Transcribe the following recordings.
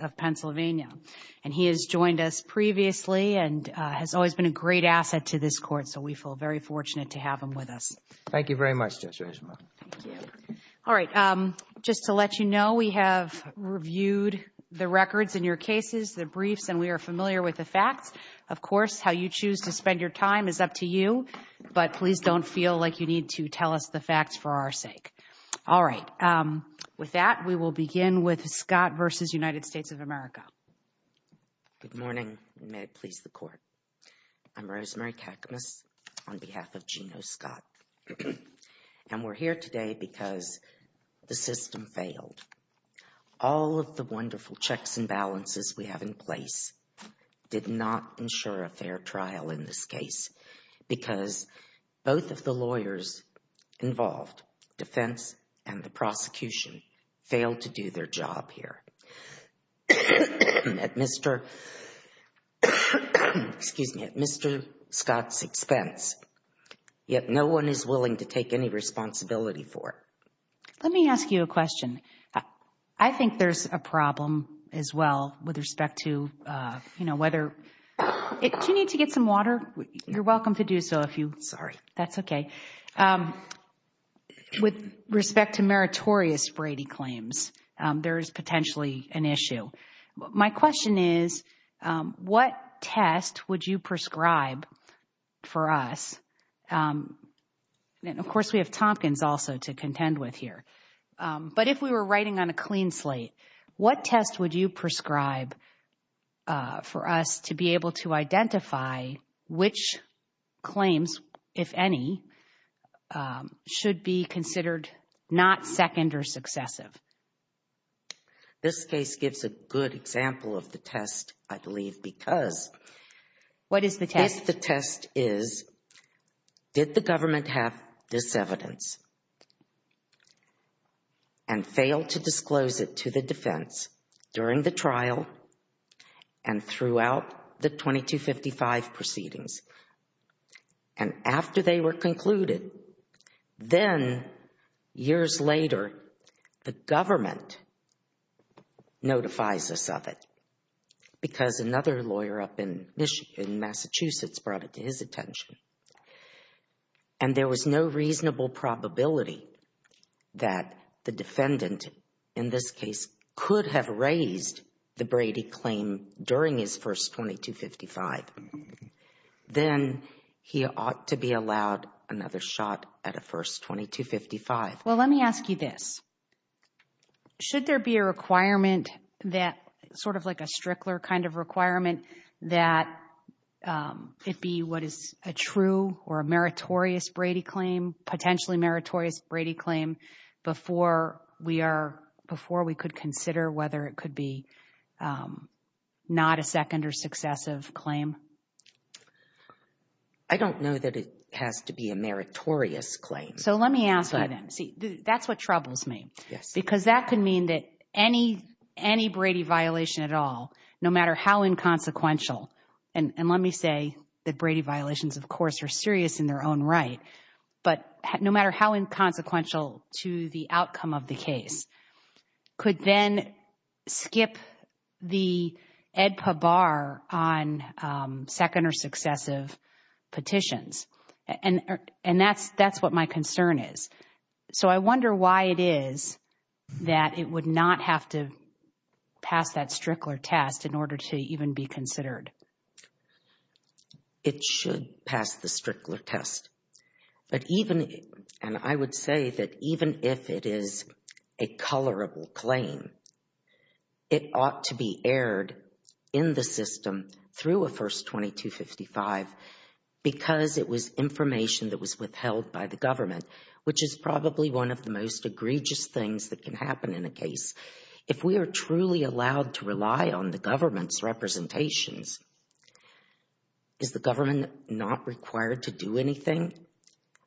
of Pennsylvania and he has joined us previously and has always been a great asset to this court so we feel very fortunate to have him with us. Thank you very much. All right just to let you know we have reviewed the records in your cases the briefs and we are familiar with the facts of course how you choose to spend your time is up to you but please don't feel like you need to tell us the facts for our sake. All right with that we will begin with Scott versus United States of America. Good morning may it please the court. I'm Rosemary Kakmus on behalf of Gino Scott and we're here today because the system failed. All of the wonderful checks and balances we have in place did not ensure a fair trial in this case because both of the lawyers involved defense and the Mr. excuse me Mr. Scott's expense yet no one is willing to take any responsibility for it. Let me ask you a question I think there's a problem as well with respect to you know whether it you need to get some water you're welcome to do so if you sorry that's okay with respect to meritorious Brady claims there is potentially an issue. My question is what test would you prescribe for us and of course we have Tompkins also to contend with here but if we were writing on a clean slate what test would you prescribe for us to be able to identify which claims if any should be considered not second or successive. This case gives a good example of the test I believe because what is the test the test is did the government have this evidence and fail to disclose it to the proceedings and after they were concluded then years later the government notifies us of it because another lawyer up in Michigan Massachusetts brought it to his attention and there was no reasonable probability that the defendant in this case could have raised the Brady claim during his first 2255 then he ought to be allowed another shot at a first 2255. Well let me ask you this should there be a requirement that sort of like a Strickler kind of requirement that it be what is a true or a meritorious Brady claim potentially meritorious Brady claim before we are before we could consider whether it could be not a second or successive claim. I don't know that it has to be a meritorious claim. So let me ask you then see that's what troubles me yes because that could mean that any any Brady violation at all no matter how inconsequential and and let me say that Brady violations of course are serious in their own right but no matter how inconsequential to the outcome of the case could then skip the AEDPA bar on second or successive petitions and and that's that's what my concern is. So I wonder why it is that it would not have to pass that Strickler test in order to even be considered. It should pass the test but even and I would say that even if it is a colorable claim it ought to be aired in the system through a first 2255 because it was information that was withheld by the government which is probably one of the most egregious things that can happen in a case. If we are truly allowed to rely on the government's representations, is the government not required to do anything?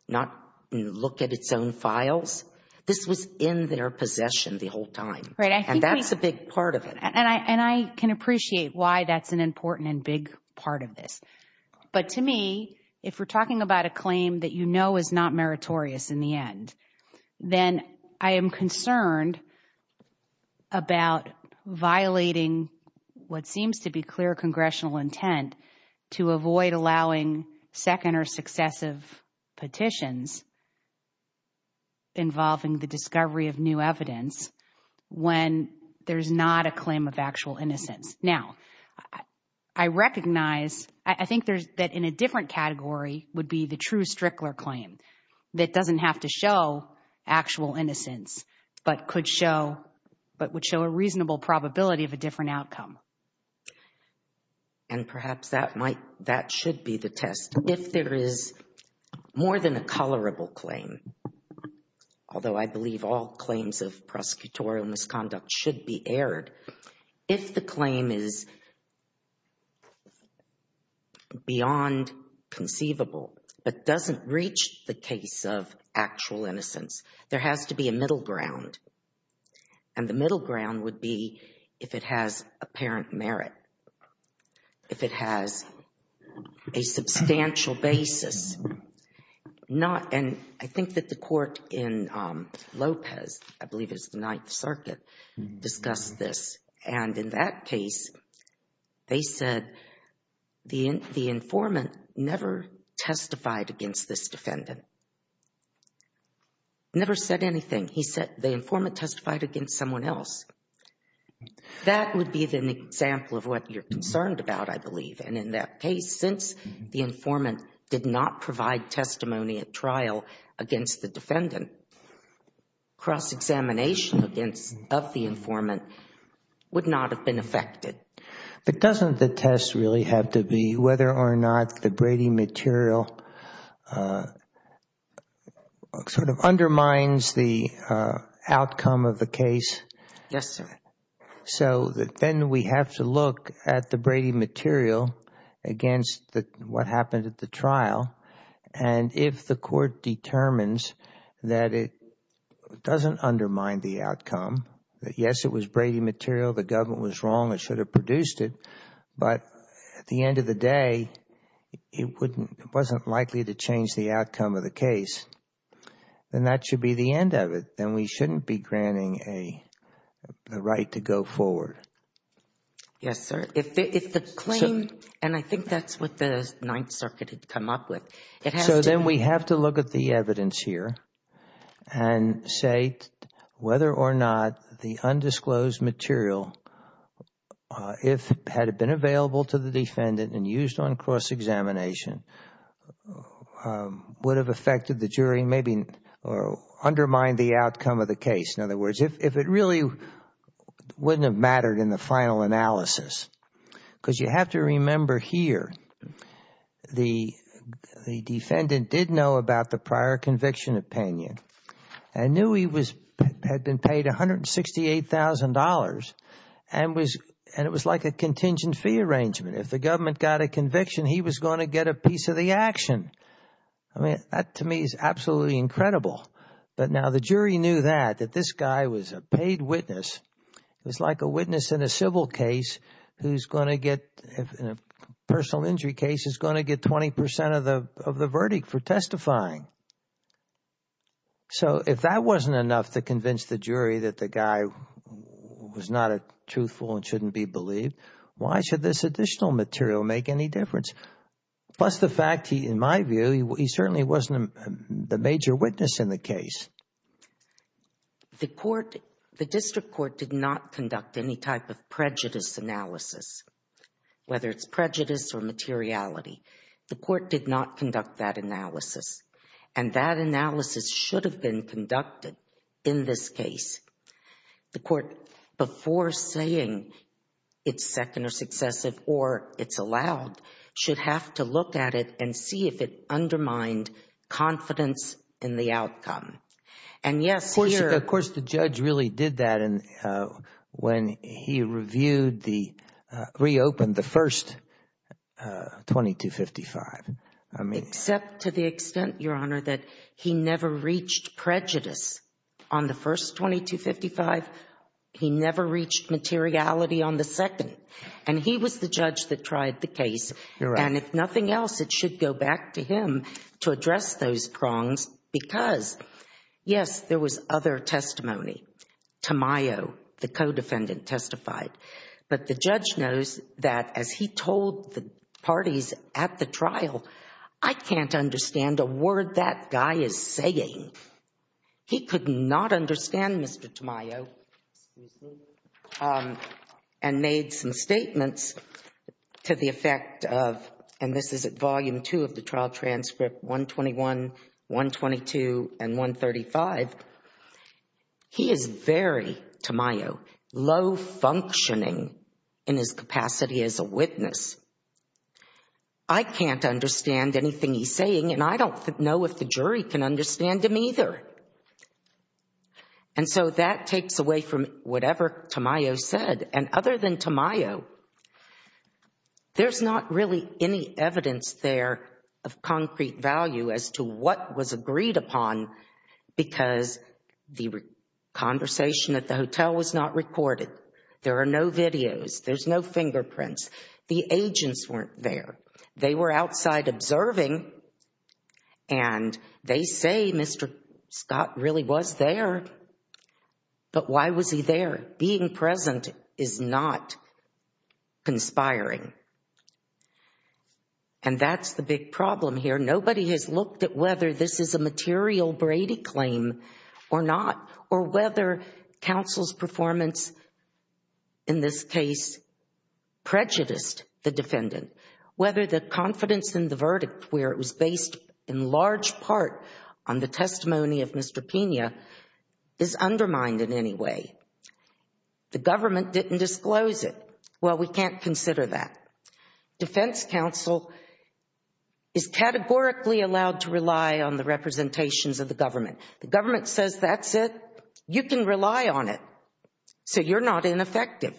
Not look at its own files? This was in their possession the whole time right and that's a big part of it. And I and I can appreciate why that's an important and big part of this but to me if we're talking about a claim that you know is not meritorious in the end then I am concerned about violating what seems to be clear congressional intent to avoid allowing second or successive petitions involving the discovery of new evidence when there's not a claim of actual innocence. Now I recognize I think there's that in a different category would be the true Strickler claim that doesn't have to show actual innocence but could show but would show a reasonable probability of a different outcome. And perhaps that might that should be the test if there is more than a colorable claim although I believe all claims of prosecutorial misconduct should be aired. If the claim is beyond conceivable but doesn't reach the case of actual innocence there has to be a middle ground and the middle ground would be if it has apparent merit. If it has a substantial basis not and I think that the court in Lopez I believe is the Ninth Circuit discussed this and in that case they said the informant never testified against this defendant. Never said anything. He said the informant testified against someone else. That would be the example of what you're concerned about I believe and in that case since the informant did not provide testimony at trial against the defendant cross-examination against of the informant would not have been affected. But doesn't the test really have to be whether or not the Brady material sort of undermines the outcome of the case? Yes sir. So then we have to look at the Brady material against that what happened at the trial and if the court determines that it doesn't undermine the outcome that yes it was Brady material the government was wrong it should have produced it but at the end of the day it wouldn't it wasn't likely to change the outcome of the case then that should be the end of it then we shouldn't be granting a right to go forward. Yes sir. If the claim and I think that's what the Ninth Circuit had come up with. So then we have to look at the evidence here and say whether or not the undisclosed material if had it been available to the defendant and used on cross-examination would have affected the jury maybe or undermine the outcome of the case in other words if it really wouldn't have mattered in the final analysis because you have to remember here the defendant did know about the prior conviction opinion and knew he was had been paid a hundred and sixty-eight thousand dollars and was and it was like a contingent fee arrangement if the government got a conviction he was going to get a piece of the action I mean that to me is absolutely incredible but now the jury knew that that this guy was a paid witness it was like a witness in a civil case who's going to get in a personal injury case is going to get 20% of the of the verdict for testifying so if that wasn't enough to convince the jury that the guy was not a truthful and shouldn't be believed why should this additional material make any difference plus the fact he in my view he certainly wasn't the major witness in the case the court the district court did not conduct any type of prejudice analysis whether it's prejudice or materiality the court did not conduct that analysis and that analysis should have been conducted in this case the have to look at it and see if it undermined confidence in the outcome and yes of course the judge really did that and when he reviewed the reopened the first 2255 I mean except to the extent your honor that he never reached prejudice on the first 2255 he never reached materiality on the second and he was the judge that tried the case and if nothing else it should go back to him to address those prongs because yes there was other testimony Tamayo the co-defendant testified but the judge knows that as he told the parties at the trial I can't understand a word that guy is saying he could not understand mr. Tamayo and made some statements to the effect of and this is at volume 2 of the trial transcript 121 122 and 135 he is very Tamayo low functioning in his capacity as a witness I can't understand anything he's saying and I don't know if the jury can understand him either and so that takes away from whatever Tamayo said and other than Tamayo there's not really any evidence there of concrete value as to what was agreed upon because the conversation at the hotel was not recorded there are no videos there's no and they say mr. Scott really was there but why was he there being present is not conspiring and that's the big problem here nobody has looked at whether this is a material Brady claim or not or whether counsel's performance in this case prejudiced the defendant whether the confidence in the verdict where it was based in large part on the testimony of mr. Pena is undermined in any way the government didn't disclose it well we can't consider that defense counsel is categorically allowed to rely on the representations of the government the government says that's it you can rely on it so you're not ineffective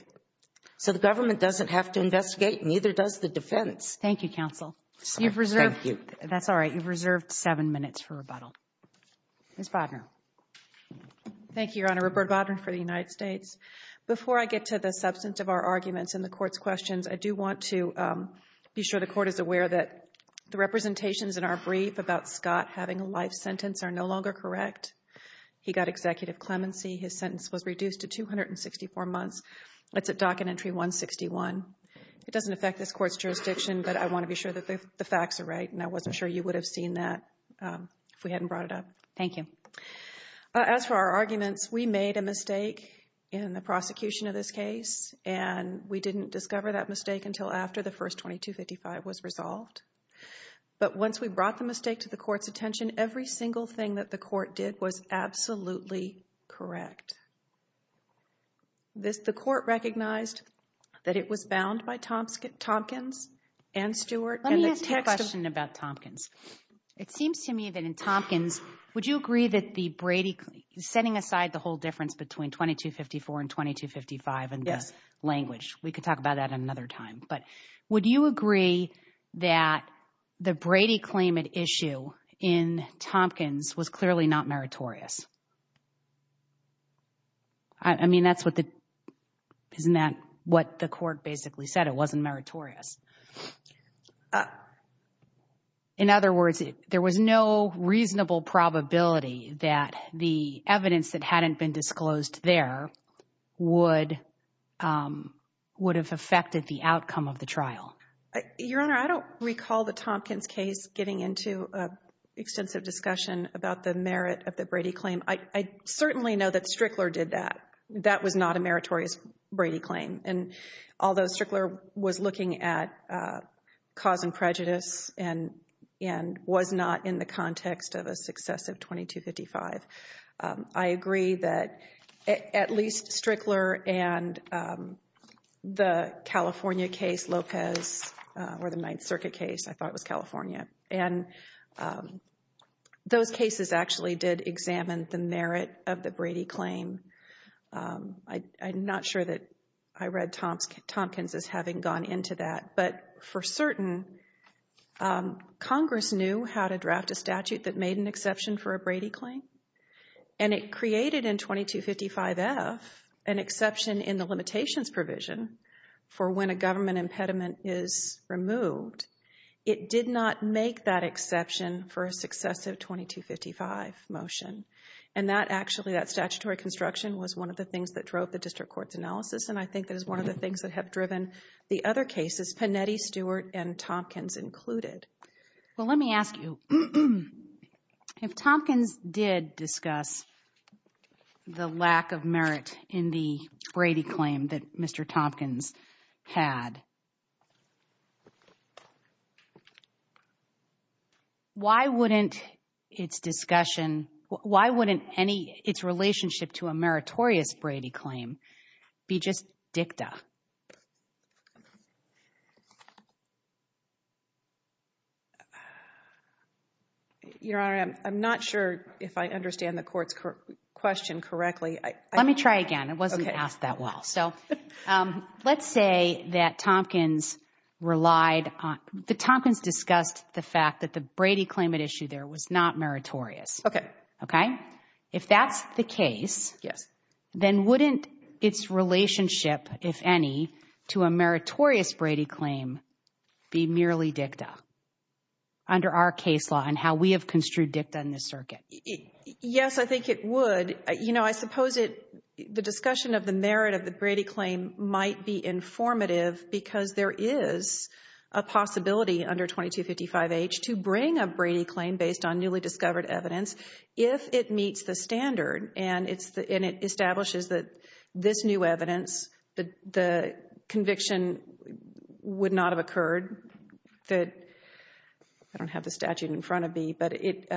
so the government doesn't have to investigate neither does the defense thank you counsel you've reserved you that's all right you've reserved seven minutes for rebuttal mr. thank you your honor Roberta Bodden for the United States before I get to the substance of our arguments in the court's questions I do want to be sure the court is aware that the representations in our brief about Scott having a life sentence are no longer correct he got executive clemency his sentence was reduced to 264 months let's it dock an entry 161 it but I want to be sure that the facts are right and I wasn't sure you would have seen that if we hadn't brought it up thank you as for our arguments we made a mistake in the prosecution of this case and we didn't discover that mistake until after the first 2255 was resolved but once we brought the mistake to the court's attention every single thing that the court did was absolutely correct this the court recognized that it was bound by Thompson Tompkins and Stewart let me ask you a question about Tompkins it seems to me that in Tompkins would you agree that the Brady is setting aside the whole difference between 2254 and 2255 and yes language we could talk about that another time but would you agree that the Brady claimant issue in Tompkins was clearly not meritorious I mean that's what the isn't that what the court basically said it wasn't meritorious in other words there was no reasonable probability that the evidence that hadn't been disclosed there would would have affected the outcome of the trial your honor I don't recall the Tompkins case getting into a extensive discussion about the merit of the Brady claim I certainly know that Strickler did that that was not a meritorious Brady claim and although Strickler was looking at cause and prejudice and and was not in the context of a successive 2255 I agree that at least Strickler and the California case Lopez or the Ninth Circuit case I thought it was California and those cases actually did examine the merit of the Brady claim I'm not sure that I read Tompkins as having gone into that but for certain Congress knew how to draft a statute that made an exception for a Brady claim and it created in 2255 F an exception in the limitations provision for when a government impediment is removed it did not make that exception for a successive 2255 motion and that actually that statutory construction was one of the things that drove the district court's analysis and I think that is one of the things that have driven the other cases Panetti Stewart and Tompkins included well let me ask if Tompkins did discuss the lack of merit in the Brady claim that mr. Tompkins had why wouldn't its discussion why wouldn't any its relationship to a your honor I'm not sure if I understand the courts question correctly let me try again it wasn't asked that well so let's say that Tompkins relied on the Tompkins discussed the fact that the Brady claim at issue there was not meritorious okay okay if that's the case yes then wouldn't its relationship if any to a and how we have construed dicta in this circuit yes I think it would you know I suppose it the discussion of the merit of the Brady claim might be informative because there is a possibility under 2255 H to bring a Brady claim based on newly discovered evidence if it meets the standard and it's the in it establishes that this new evidence but the conviction would not have occurred that I don't have the statute in front of me but it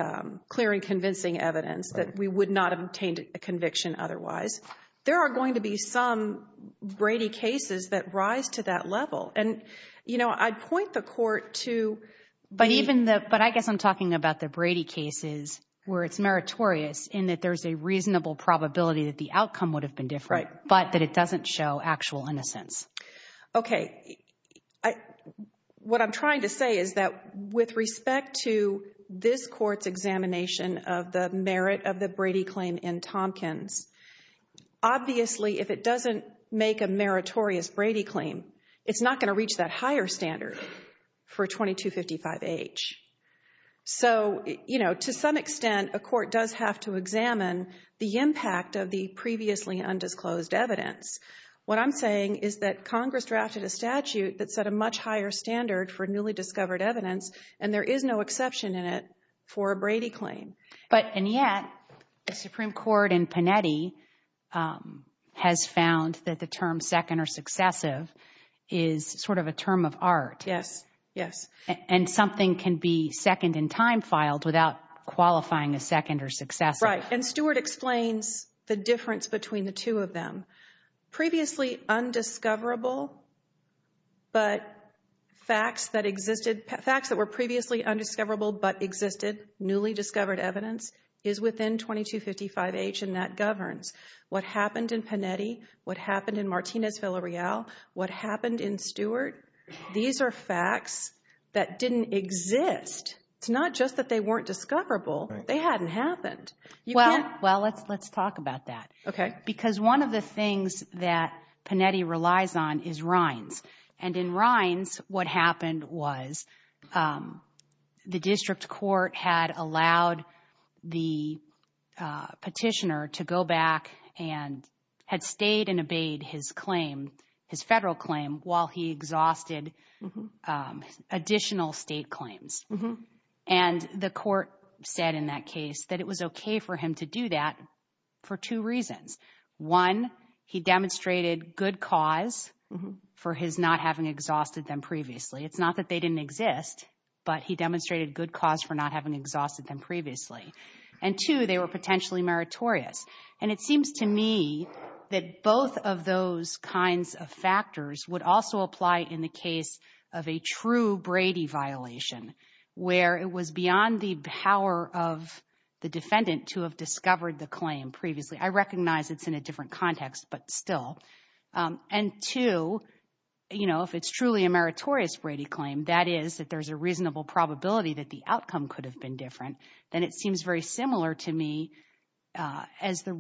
clear and convincing evidence that we would not obtained a conviction otherwise there are going to be some Brady cases that rise to that level and you know I'd point the court to but even that but I guess I'm talking about the Brady cases where it's meritorious in that there's a reasonable probability that the outcome would have been different but that it doesn't show actual innocence okay I what I'm trying to say is that with respect to this court's examination of the merit of the Brady claim in Tompkins obviously if it doesn't make a meritorious Brady claim it's not going to reach that higher standard for 2255 H so you know to some undisclosed evidence what I'm saying is that Congress drafted a statute that set a much higher standard for newly discovered evidence and there is no exception in it for a Brady claim but and yet the Supreme Court and Panetti has found that the term second or successive is sort of a term of art yes yes and something can be second in time filed without qualifying a second or successive right and Stewart explains the difference between the two of them previously undiscoverable but facts that existed facts that were previously undiscoverable but existed newly discovered evidence is within 2255 H and that governs what happened in Panetti what happened in Martinez Villarreal what happened in Stewart these are facts that didn't exist it's not just that they weren't discoverable they hadn't happened well well let's let's talk about that okay because one of the things that Panetti relies on is Rhines and in Rhines what happened was the district court had allowed the petitioner to go back and had stayed and obeyed his claim his federal claim while he exhausted additional state claims mm-hmm and the court said in that case that it was okay for him to do that for two reasons one he demonstrated good cause for his not having exhausted them previously it's not that they didn't exist but he demonstrated good cause for not having exhausted them previously and two they were potentially meritorious and it seems to me that both of those kinds of factors would also apply in the case of a true Brady violation where it was beyond the power of the defendant to have discovered the claim previously I recognize it's in a different context but still and to you know if it's truly a meritorious Brady claim that is that there's a reasonable probability that the outcome could have been different then it seems very similar to me as the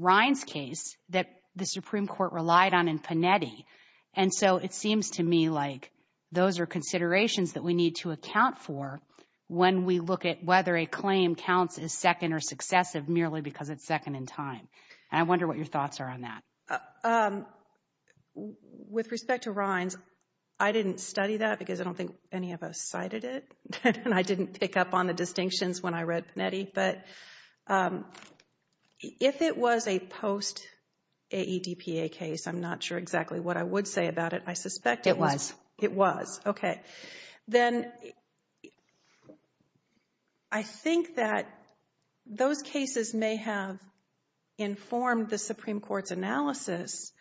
and so it seems to me like those are considerations that we need to account for when we look at whether a claim counts as second or successive merely because it's second in time and I wonder what your thoughts are on that with respect to Rhines I didn't study that because I don't think any of us cited it and I didn't pick up on the distinctions when I read Panetti but if it was a post-AEDPA case I'm not sure exactly what I would say about it I suspect it was it was okay then I think that those cases may have informed the Supreme Court's analysis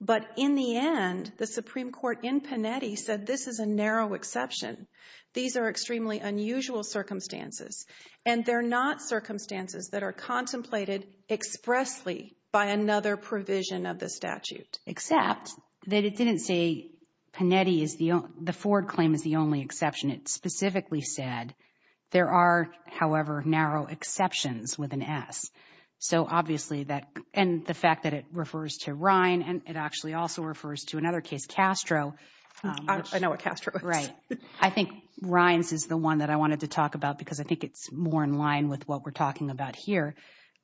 but in the end the Supreme Court in Panetti said this is a narrow exception these are extremely unusual circumstances and they're not circumstances that are contemplated expressly by another provision of the statute except that it didn't say Panetti is the the Ford claim is the only exception it specifically said there are however narrow exceptions with an S so obviously that and the fact that it refers to Rhine and it actually also refers to another case Castro I know what Castro right I think Rhines is the one that I wanted to talk about because I think it's more in line with what we're talking about here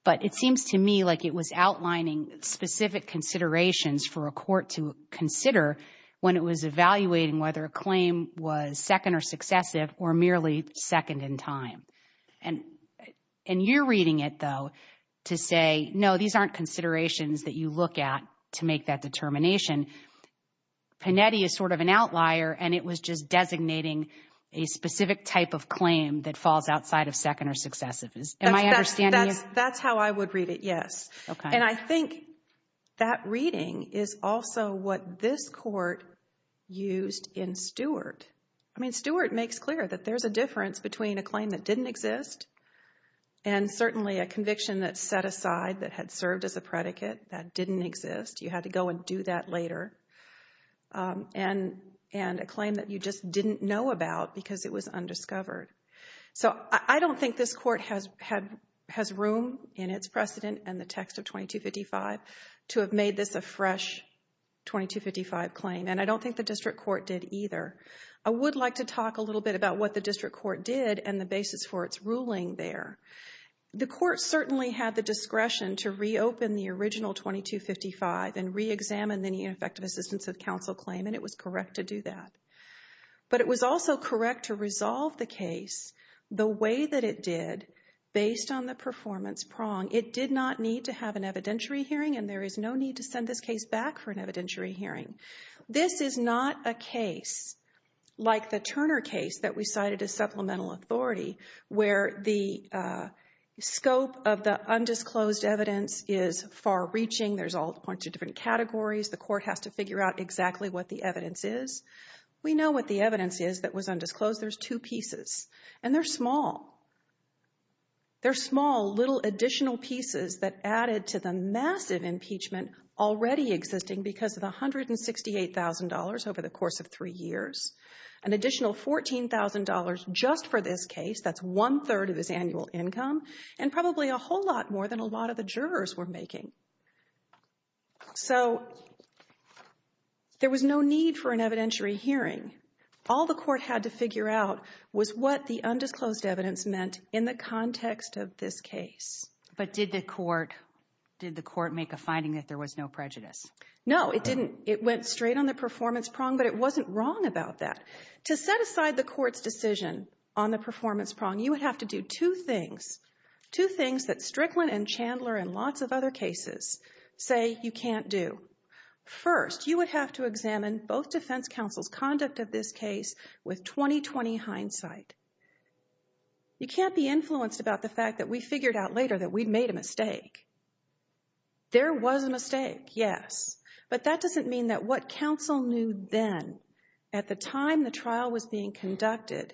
but it seems to me like it was outlining specific considerations for a court to consider when it was evaluating whether a claim was second or successive or merely second in time and and you're reading it though to say no these aren't considerations that you look at to make that determination Panetti is sort of an outlier and it was just designating a that's how I would read it yes and I think that reading is also what this court used in Stewart I mean Stewart makes clear that there's a difference between a claim that didn't exist and certainly a conviction that set aside that had served as a predicate that didn't exist you had to go and do that later and and a claim that you just didn't know about because it was has room in its precedent and the text of 2255 to have made this a fresh 2255 claim and I don't think the district court did either I would like to talk a little bit about what the district court did and the basis for its ruling there the court certainly had the discretion to reopen the original 2255 and re-examine the ineffective assistance of counsel claim and it was correct to do that but it was also correct to resolve the case the way that it did based on the performance prong it did not need to have an evidentiary hearing and there is no need to send this case back for an evidentiary hearing this is not a case like the Turner case that we cited a supplemental authority where the scope of the undisclosed evidence is far-reaching there's all points of different categories the court has to figure out exactly what the evidence is we know what the evidence is that was undisclosed there's two pieces and they're small they're small little additional pieces that added to the massive impeachment already existing because of a hundred and sixty eight thousand dollars over the course of three years an additional fourteen thousand dollars just for this case that's one-third of his annual income and probably a whole lot more than a lot of the jurors were making so there was no need for an evidentiary hearing all the court had to figure out was what the undisclosed evidence meant in the context of this case but did the court did the court make a finding that there was no prejudice no it didn't it went straight on the performance prong but it wasn't wrong about that to set aside the court's decision on the performance prong you have to do two things two things that Strickland and Chandler and lots of other cases say you can't do first you would have to examine both defense counsel's conduct of this case with 20-20 hindsight you can't be influenced about the fact that we figured out later that we'd made a mistake there was a mistake yes but that doesn't mean that what counsel knew then at the time the trial was being conducted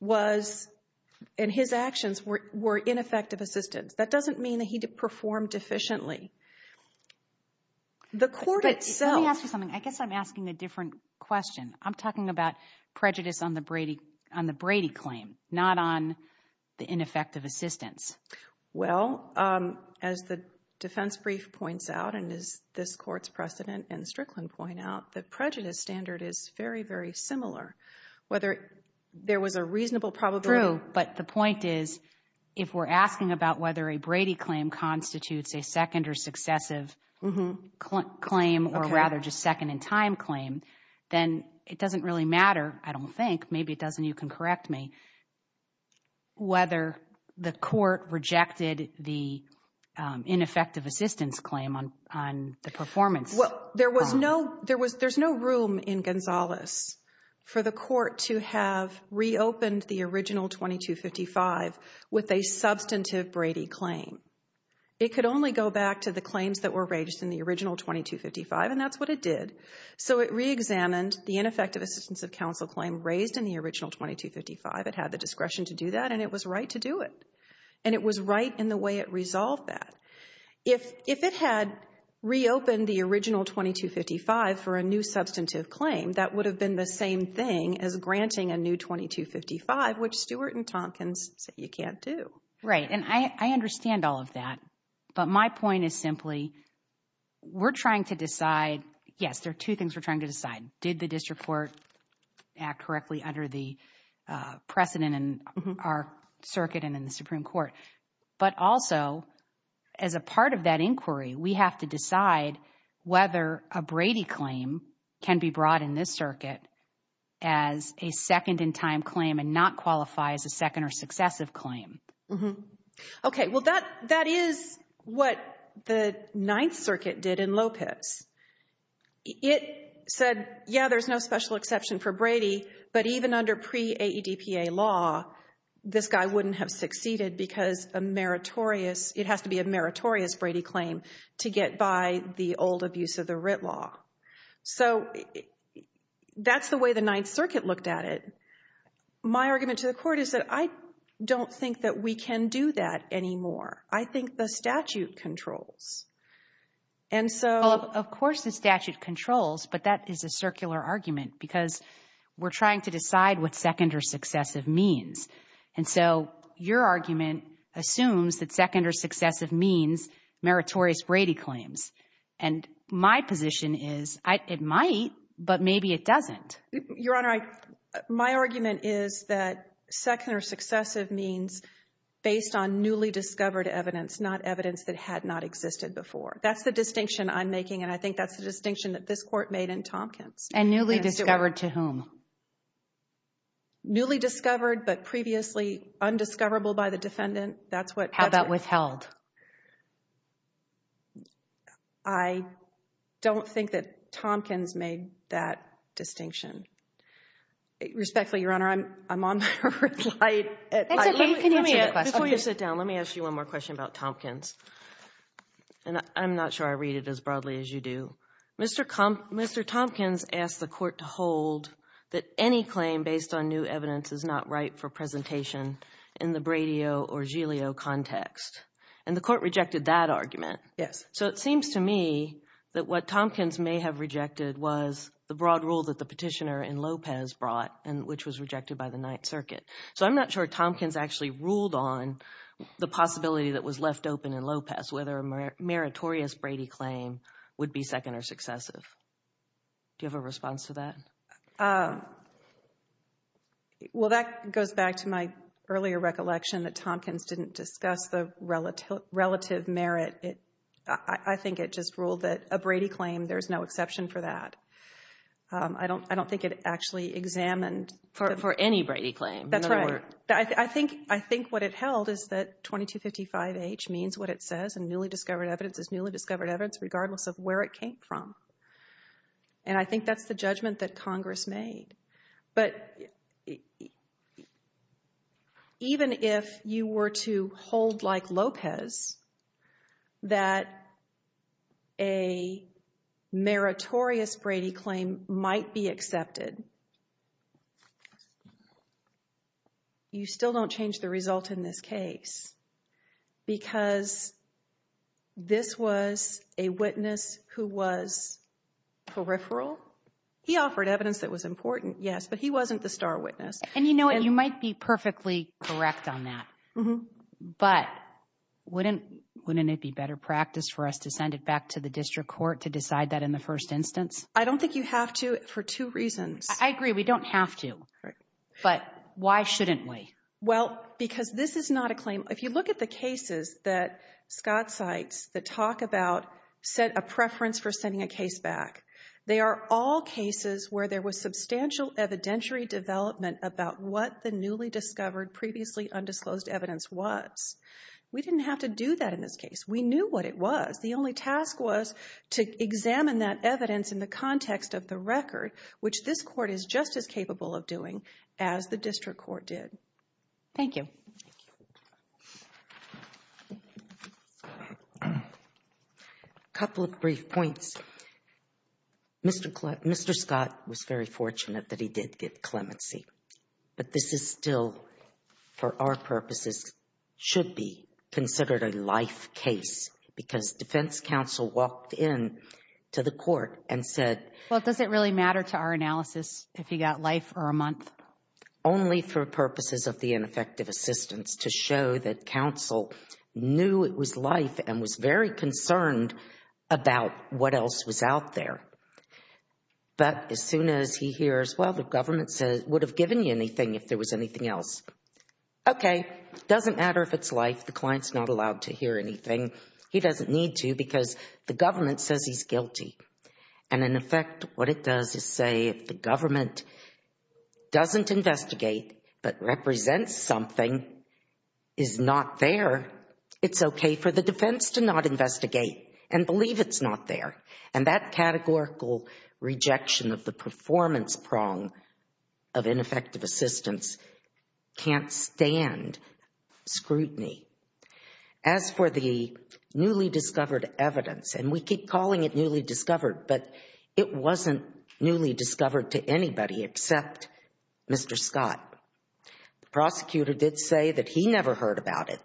was and his actions were ineffective assistance that doesn't mean that he performed efficiently the court itself something I guess I'm asking a different question I'm talking about prejudice on the Brady on the Brady claim not on the ineffective assistance well as the defense brief points out and is this court's precedent and Strickland point out that prejudice standard is very very similar whether there was a reasonable probably oh but the point is if we're asking about whether a Brady claim constitutes a second or successive mm-hmm claim or rather just second in time claim then it doesn't really matter I don't think maybe it doesn't you can correct me whether the court rejected the ineffective assistance claim on the performance well there was no there was there's no room in Gonzales for the court to have reopened the original 22 55 with a substantive Brady claim it could only go back to the claims that were raised in the original 22 55 and that's what it did so it re-examined the ineffective assistance of counsel claim raised in the original 22 55 it had the discretion to do that and it was right to do it and it was right in the way it resolved that if if it had reopened the original 22 55 for a new substantive claim that would have been the same thing as granting a new 22 55 which Stuart and Tompkins said you can't do right and I understand all of that but my point is simply we're trying to decide yes there are two things we're trying to decide did the district court act correctly under the precedent and our circuit and in the Supreme Court but also as a part of that inquiry we have to decide whether a Brady claim can be brought in this circuit as a second in time claim and not qualify as a second or successive claim mm-hmm okay well that that is what the Ninth Circuit did in Lopez it said yeah there's no special exception for Brady but even under pre AE DPA law this guy wouldn't have succeeded because a meritorious it has to be a meritorious Brady claim to get by the old abuse of the writ law so that's the way the Ninth Circuit looked at it my argument to the court is that I don't think that we can do that anymore I think the statute controls and so of course the statute controls but that is a circular argument because we're trying to decide what second or successive means and so your argument assumes that second or successive means meritorious Brady claims and my position is I it might but maybe it doesn't your honor I my argument is that second or successive means based on newly discovered evidence not evidence that had not existed before that's the distinction I'm making and I think that's the distinction that this court made in Tompkins and newly discovered to whom newly discovered but previously undiscoverable by the defendant that's what how about withheld I don't think that Tompkins made that distinction respectfully your honor I'm I'm on before you sit down let me ask you one more question about Tompkins and I'm not sure I read it as broadly as you do mr. come mr. Tompkins asked the court to hold that any claim based on new evidence is not right for presentation in the Brady Oh or Giglio context and the court rejected that argument yes so it seems to me that what Tompkins may have rejected was the broad rule that the petitioner in Lopez brought and which was rejected by the Ninth Circuit so I'm not sure Tompkins actually ruled on the possibility that was left open in Lopez whether a meritorious Brady claim would be second or successive do you have a response to that well that goes back to my earlier recollection that relative relative merit it I think it just ruled that a Brady claim there's no exception for that I don't I don't think it actually examined for any Brady claim that's right I think I think what it held is that 2255 H means what it says and newly discovered evidence is newly discovered evidence regardless of where it came from and I think that's the judgment that Congress made but even if you were to hold like Lopez that a meritorious Brady claim might be accepted you still don't change the result in this case because this was a witness who was peripheral he offered evidence that was important yes but he wasn't the star witness and you know what you might be perfectly correct on that mm-hmm but wouldn't wouldn't it be better practice for us to send it back to the district court to decide that in the first instance I don't think you have to for two reasons I agree we don't have to but why shouldn't we well because this is not a claim if you look at the cases that Scott cites that talk about set a preference for sending a case back they are all cases where there was substantial evidentiary development about what the newly discovered previously undisclosed evidence was we didn't have to do that in this case we knew what it was the only task was to examine that evidence in the context of the record which this court is just as capable of doing as the district court did thank you a couple of brief points mr. Clark mr. Scott was very fortunate that he did get clemency but this is still for our purposes should be considered a life case because defense counsel walked in to the court and said well it doesn't really matter to our analysis if he got life or a month only for purposes of the ineffective assistance to show that counsel knew it was life and was very concerned about what else was out there but as soon as he hears well the government says would have given you anything if there was anything else okay doesn't matter if it's life the clients not allowed to hear anything he doesn't need to because the government says he's guilty and in effect what it does is say if the government doesn't investigate but represents something is not there it's okay for the defense to not investigate and believe it's not there and that categorical rejection of the performance prong of ineffective assistance can't stand scrutiny as for the newly discovered evidence and we keep calling it newly discovered but it wasn't newly discovered to anybody except mr. Scott the prosecutor did say that he never heard about it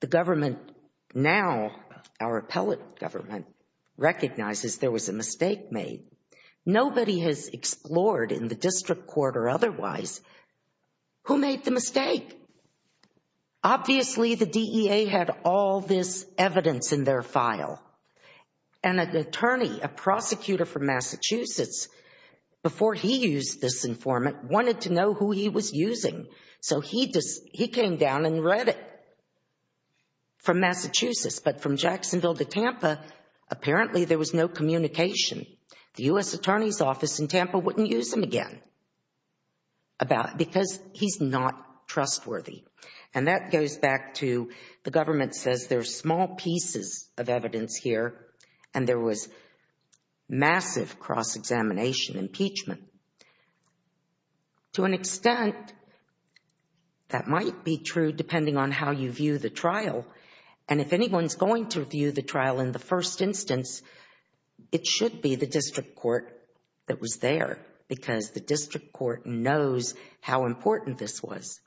the government now our appellate government recognizes there was a mistake made nobody has explored in the district court or otherwise who made the mistake obviously the DEA had all this evidence in their file and an attorney a prosecutor from Massachusetts before he used this informant wanted to know who he was using so he just he came down and there was no communication the US Attorney's Office in Tampa wouldn't use him again about because he's not trustworthy and that goes back to the government says there's small pieces of evidence here and there was massive cross-examination impeachment to an extent that might be true depending on how you view the trial and if anyone's going to view the trial in the first instance it should be the district court that was there because the district court knows how important this was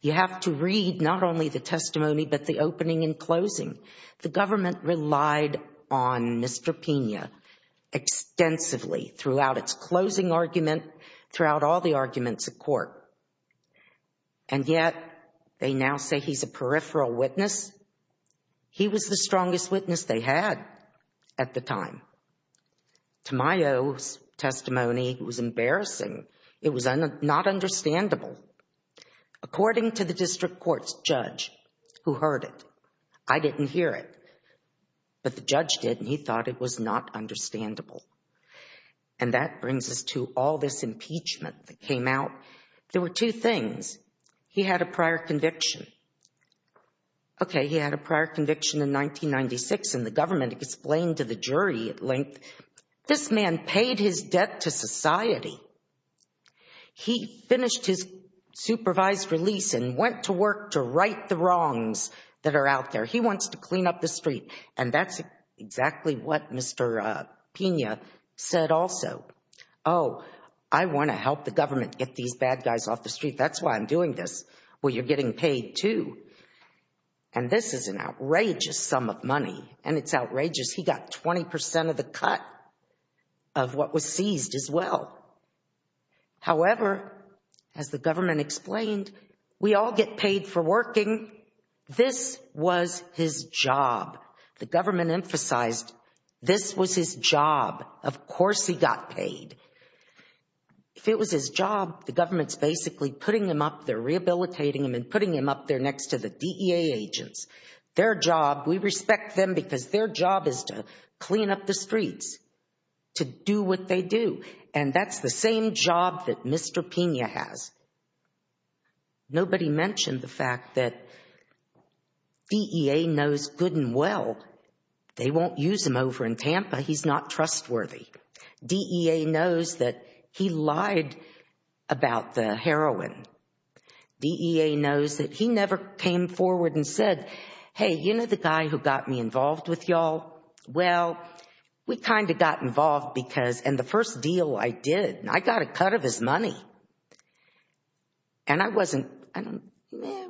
you have to read not only the testimony but the opening and closing the government relied on mr. Pena extensively throughout its closing argument throughout all the arguments of court and yet they now say he's a peripheral witness he was the strongest witness they had at the time Tamayo's testimony was embarrassing it was not understandable according to the district court's judge who heard it I didn't hear it but the judge did and he thought it was not understandable and that brings us to all this impeachment that came out there were two things he had a prior conviction okay he had a prior conviction in 1996 and the government explained to the jury at length this man paid his debt to society he finished his supervised release and went to work to right the wrongs that are out there he wants to clean up the street and that's exactly what mr. Pena said also oh I want to help the government get these bad guys off the well you're getting paid too and this is an outrageous sum of money and it's outrageous he got 20% of the cut of what was seized as well however as the government explained we all get paid for working this was his job the government emphasized this was his job of course he got paid if it was his job the rehabilitating him and putting him up there next to the DEA agents their job we respect them because their job is to clean up the streets to do what they do and that's the same job that mr. Pena has nobody mentioned the fact that DEA knows good and well they won't use him over in Tampa he's not trustworthy DEA knows that he lied about the heroin DEA knows that he never came forward and said hey you know the guy who got me involved with y'all well we kind of got involved because and the first deal I did I got a cut of his money and I wasn't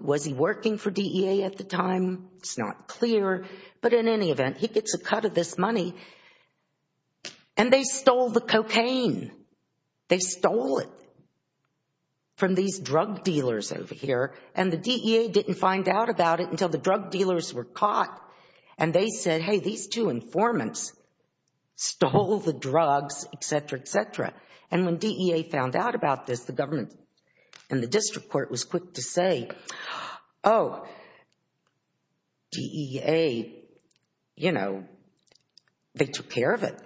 was he working for DEA at the time it's not clear but in any event he stole the cocaine they stole it from these drug dealers over here and the DEA didn't find out about it until the drug dealers were caught and they said hey these two informants stole the drugs etc etc and when DEA found out about this the government and the district court was quick to say oh DEA you know they took care of it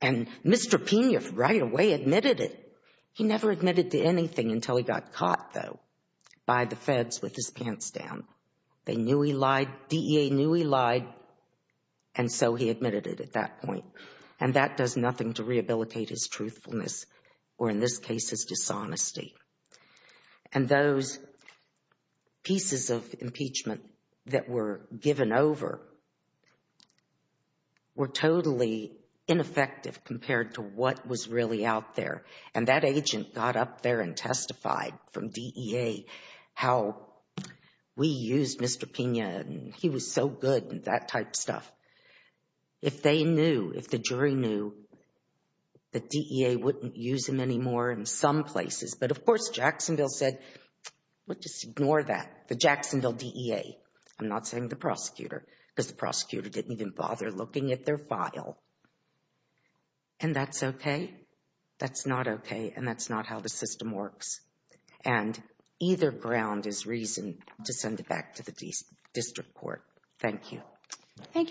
and mr. Pena right away admitted it he never admitted to anything until he got caught though by the feds with his pants down they knew he lied DEA knew he lied and so he admitted it at that point and that does nothing to rehabilitate his truthfulness or in this case his dishonesty and those pieces of impeachment that were given over were totally ineffective compared to what was really out there and that agent got up there and testified from DEA how we used mr. Pena and he was so good and that type stuff if they knew if the jury knew that DEA wouldn't use him anymore in some places but of course Jacksonville said what just ignore that the Jacksonville DEA I'm not saying the prosecutor because the prosecutor didn't even bother looking at their file and that's okay that's not okay and that's not how the system works and either ground is reason to send it back to the district court thank you thank you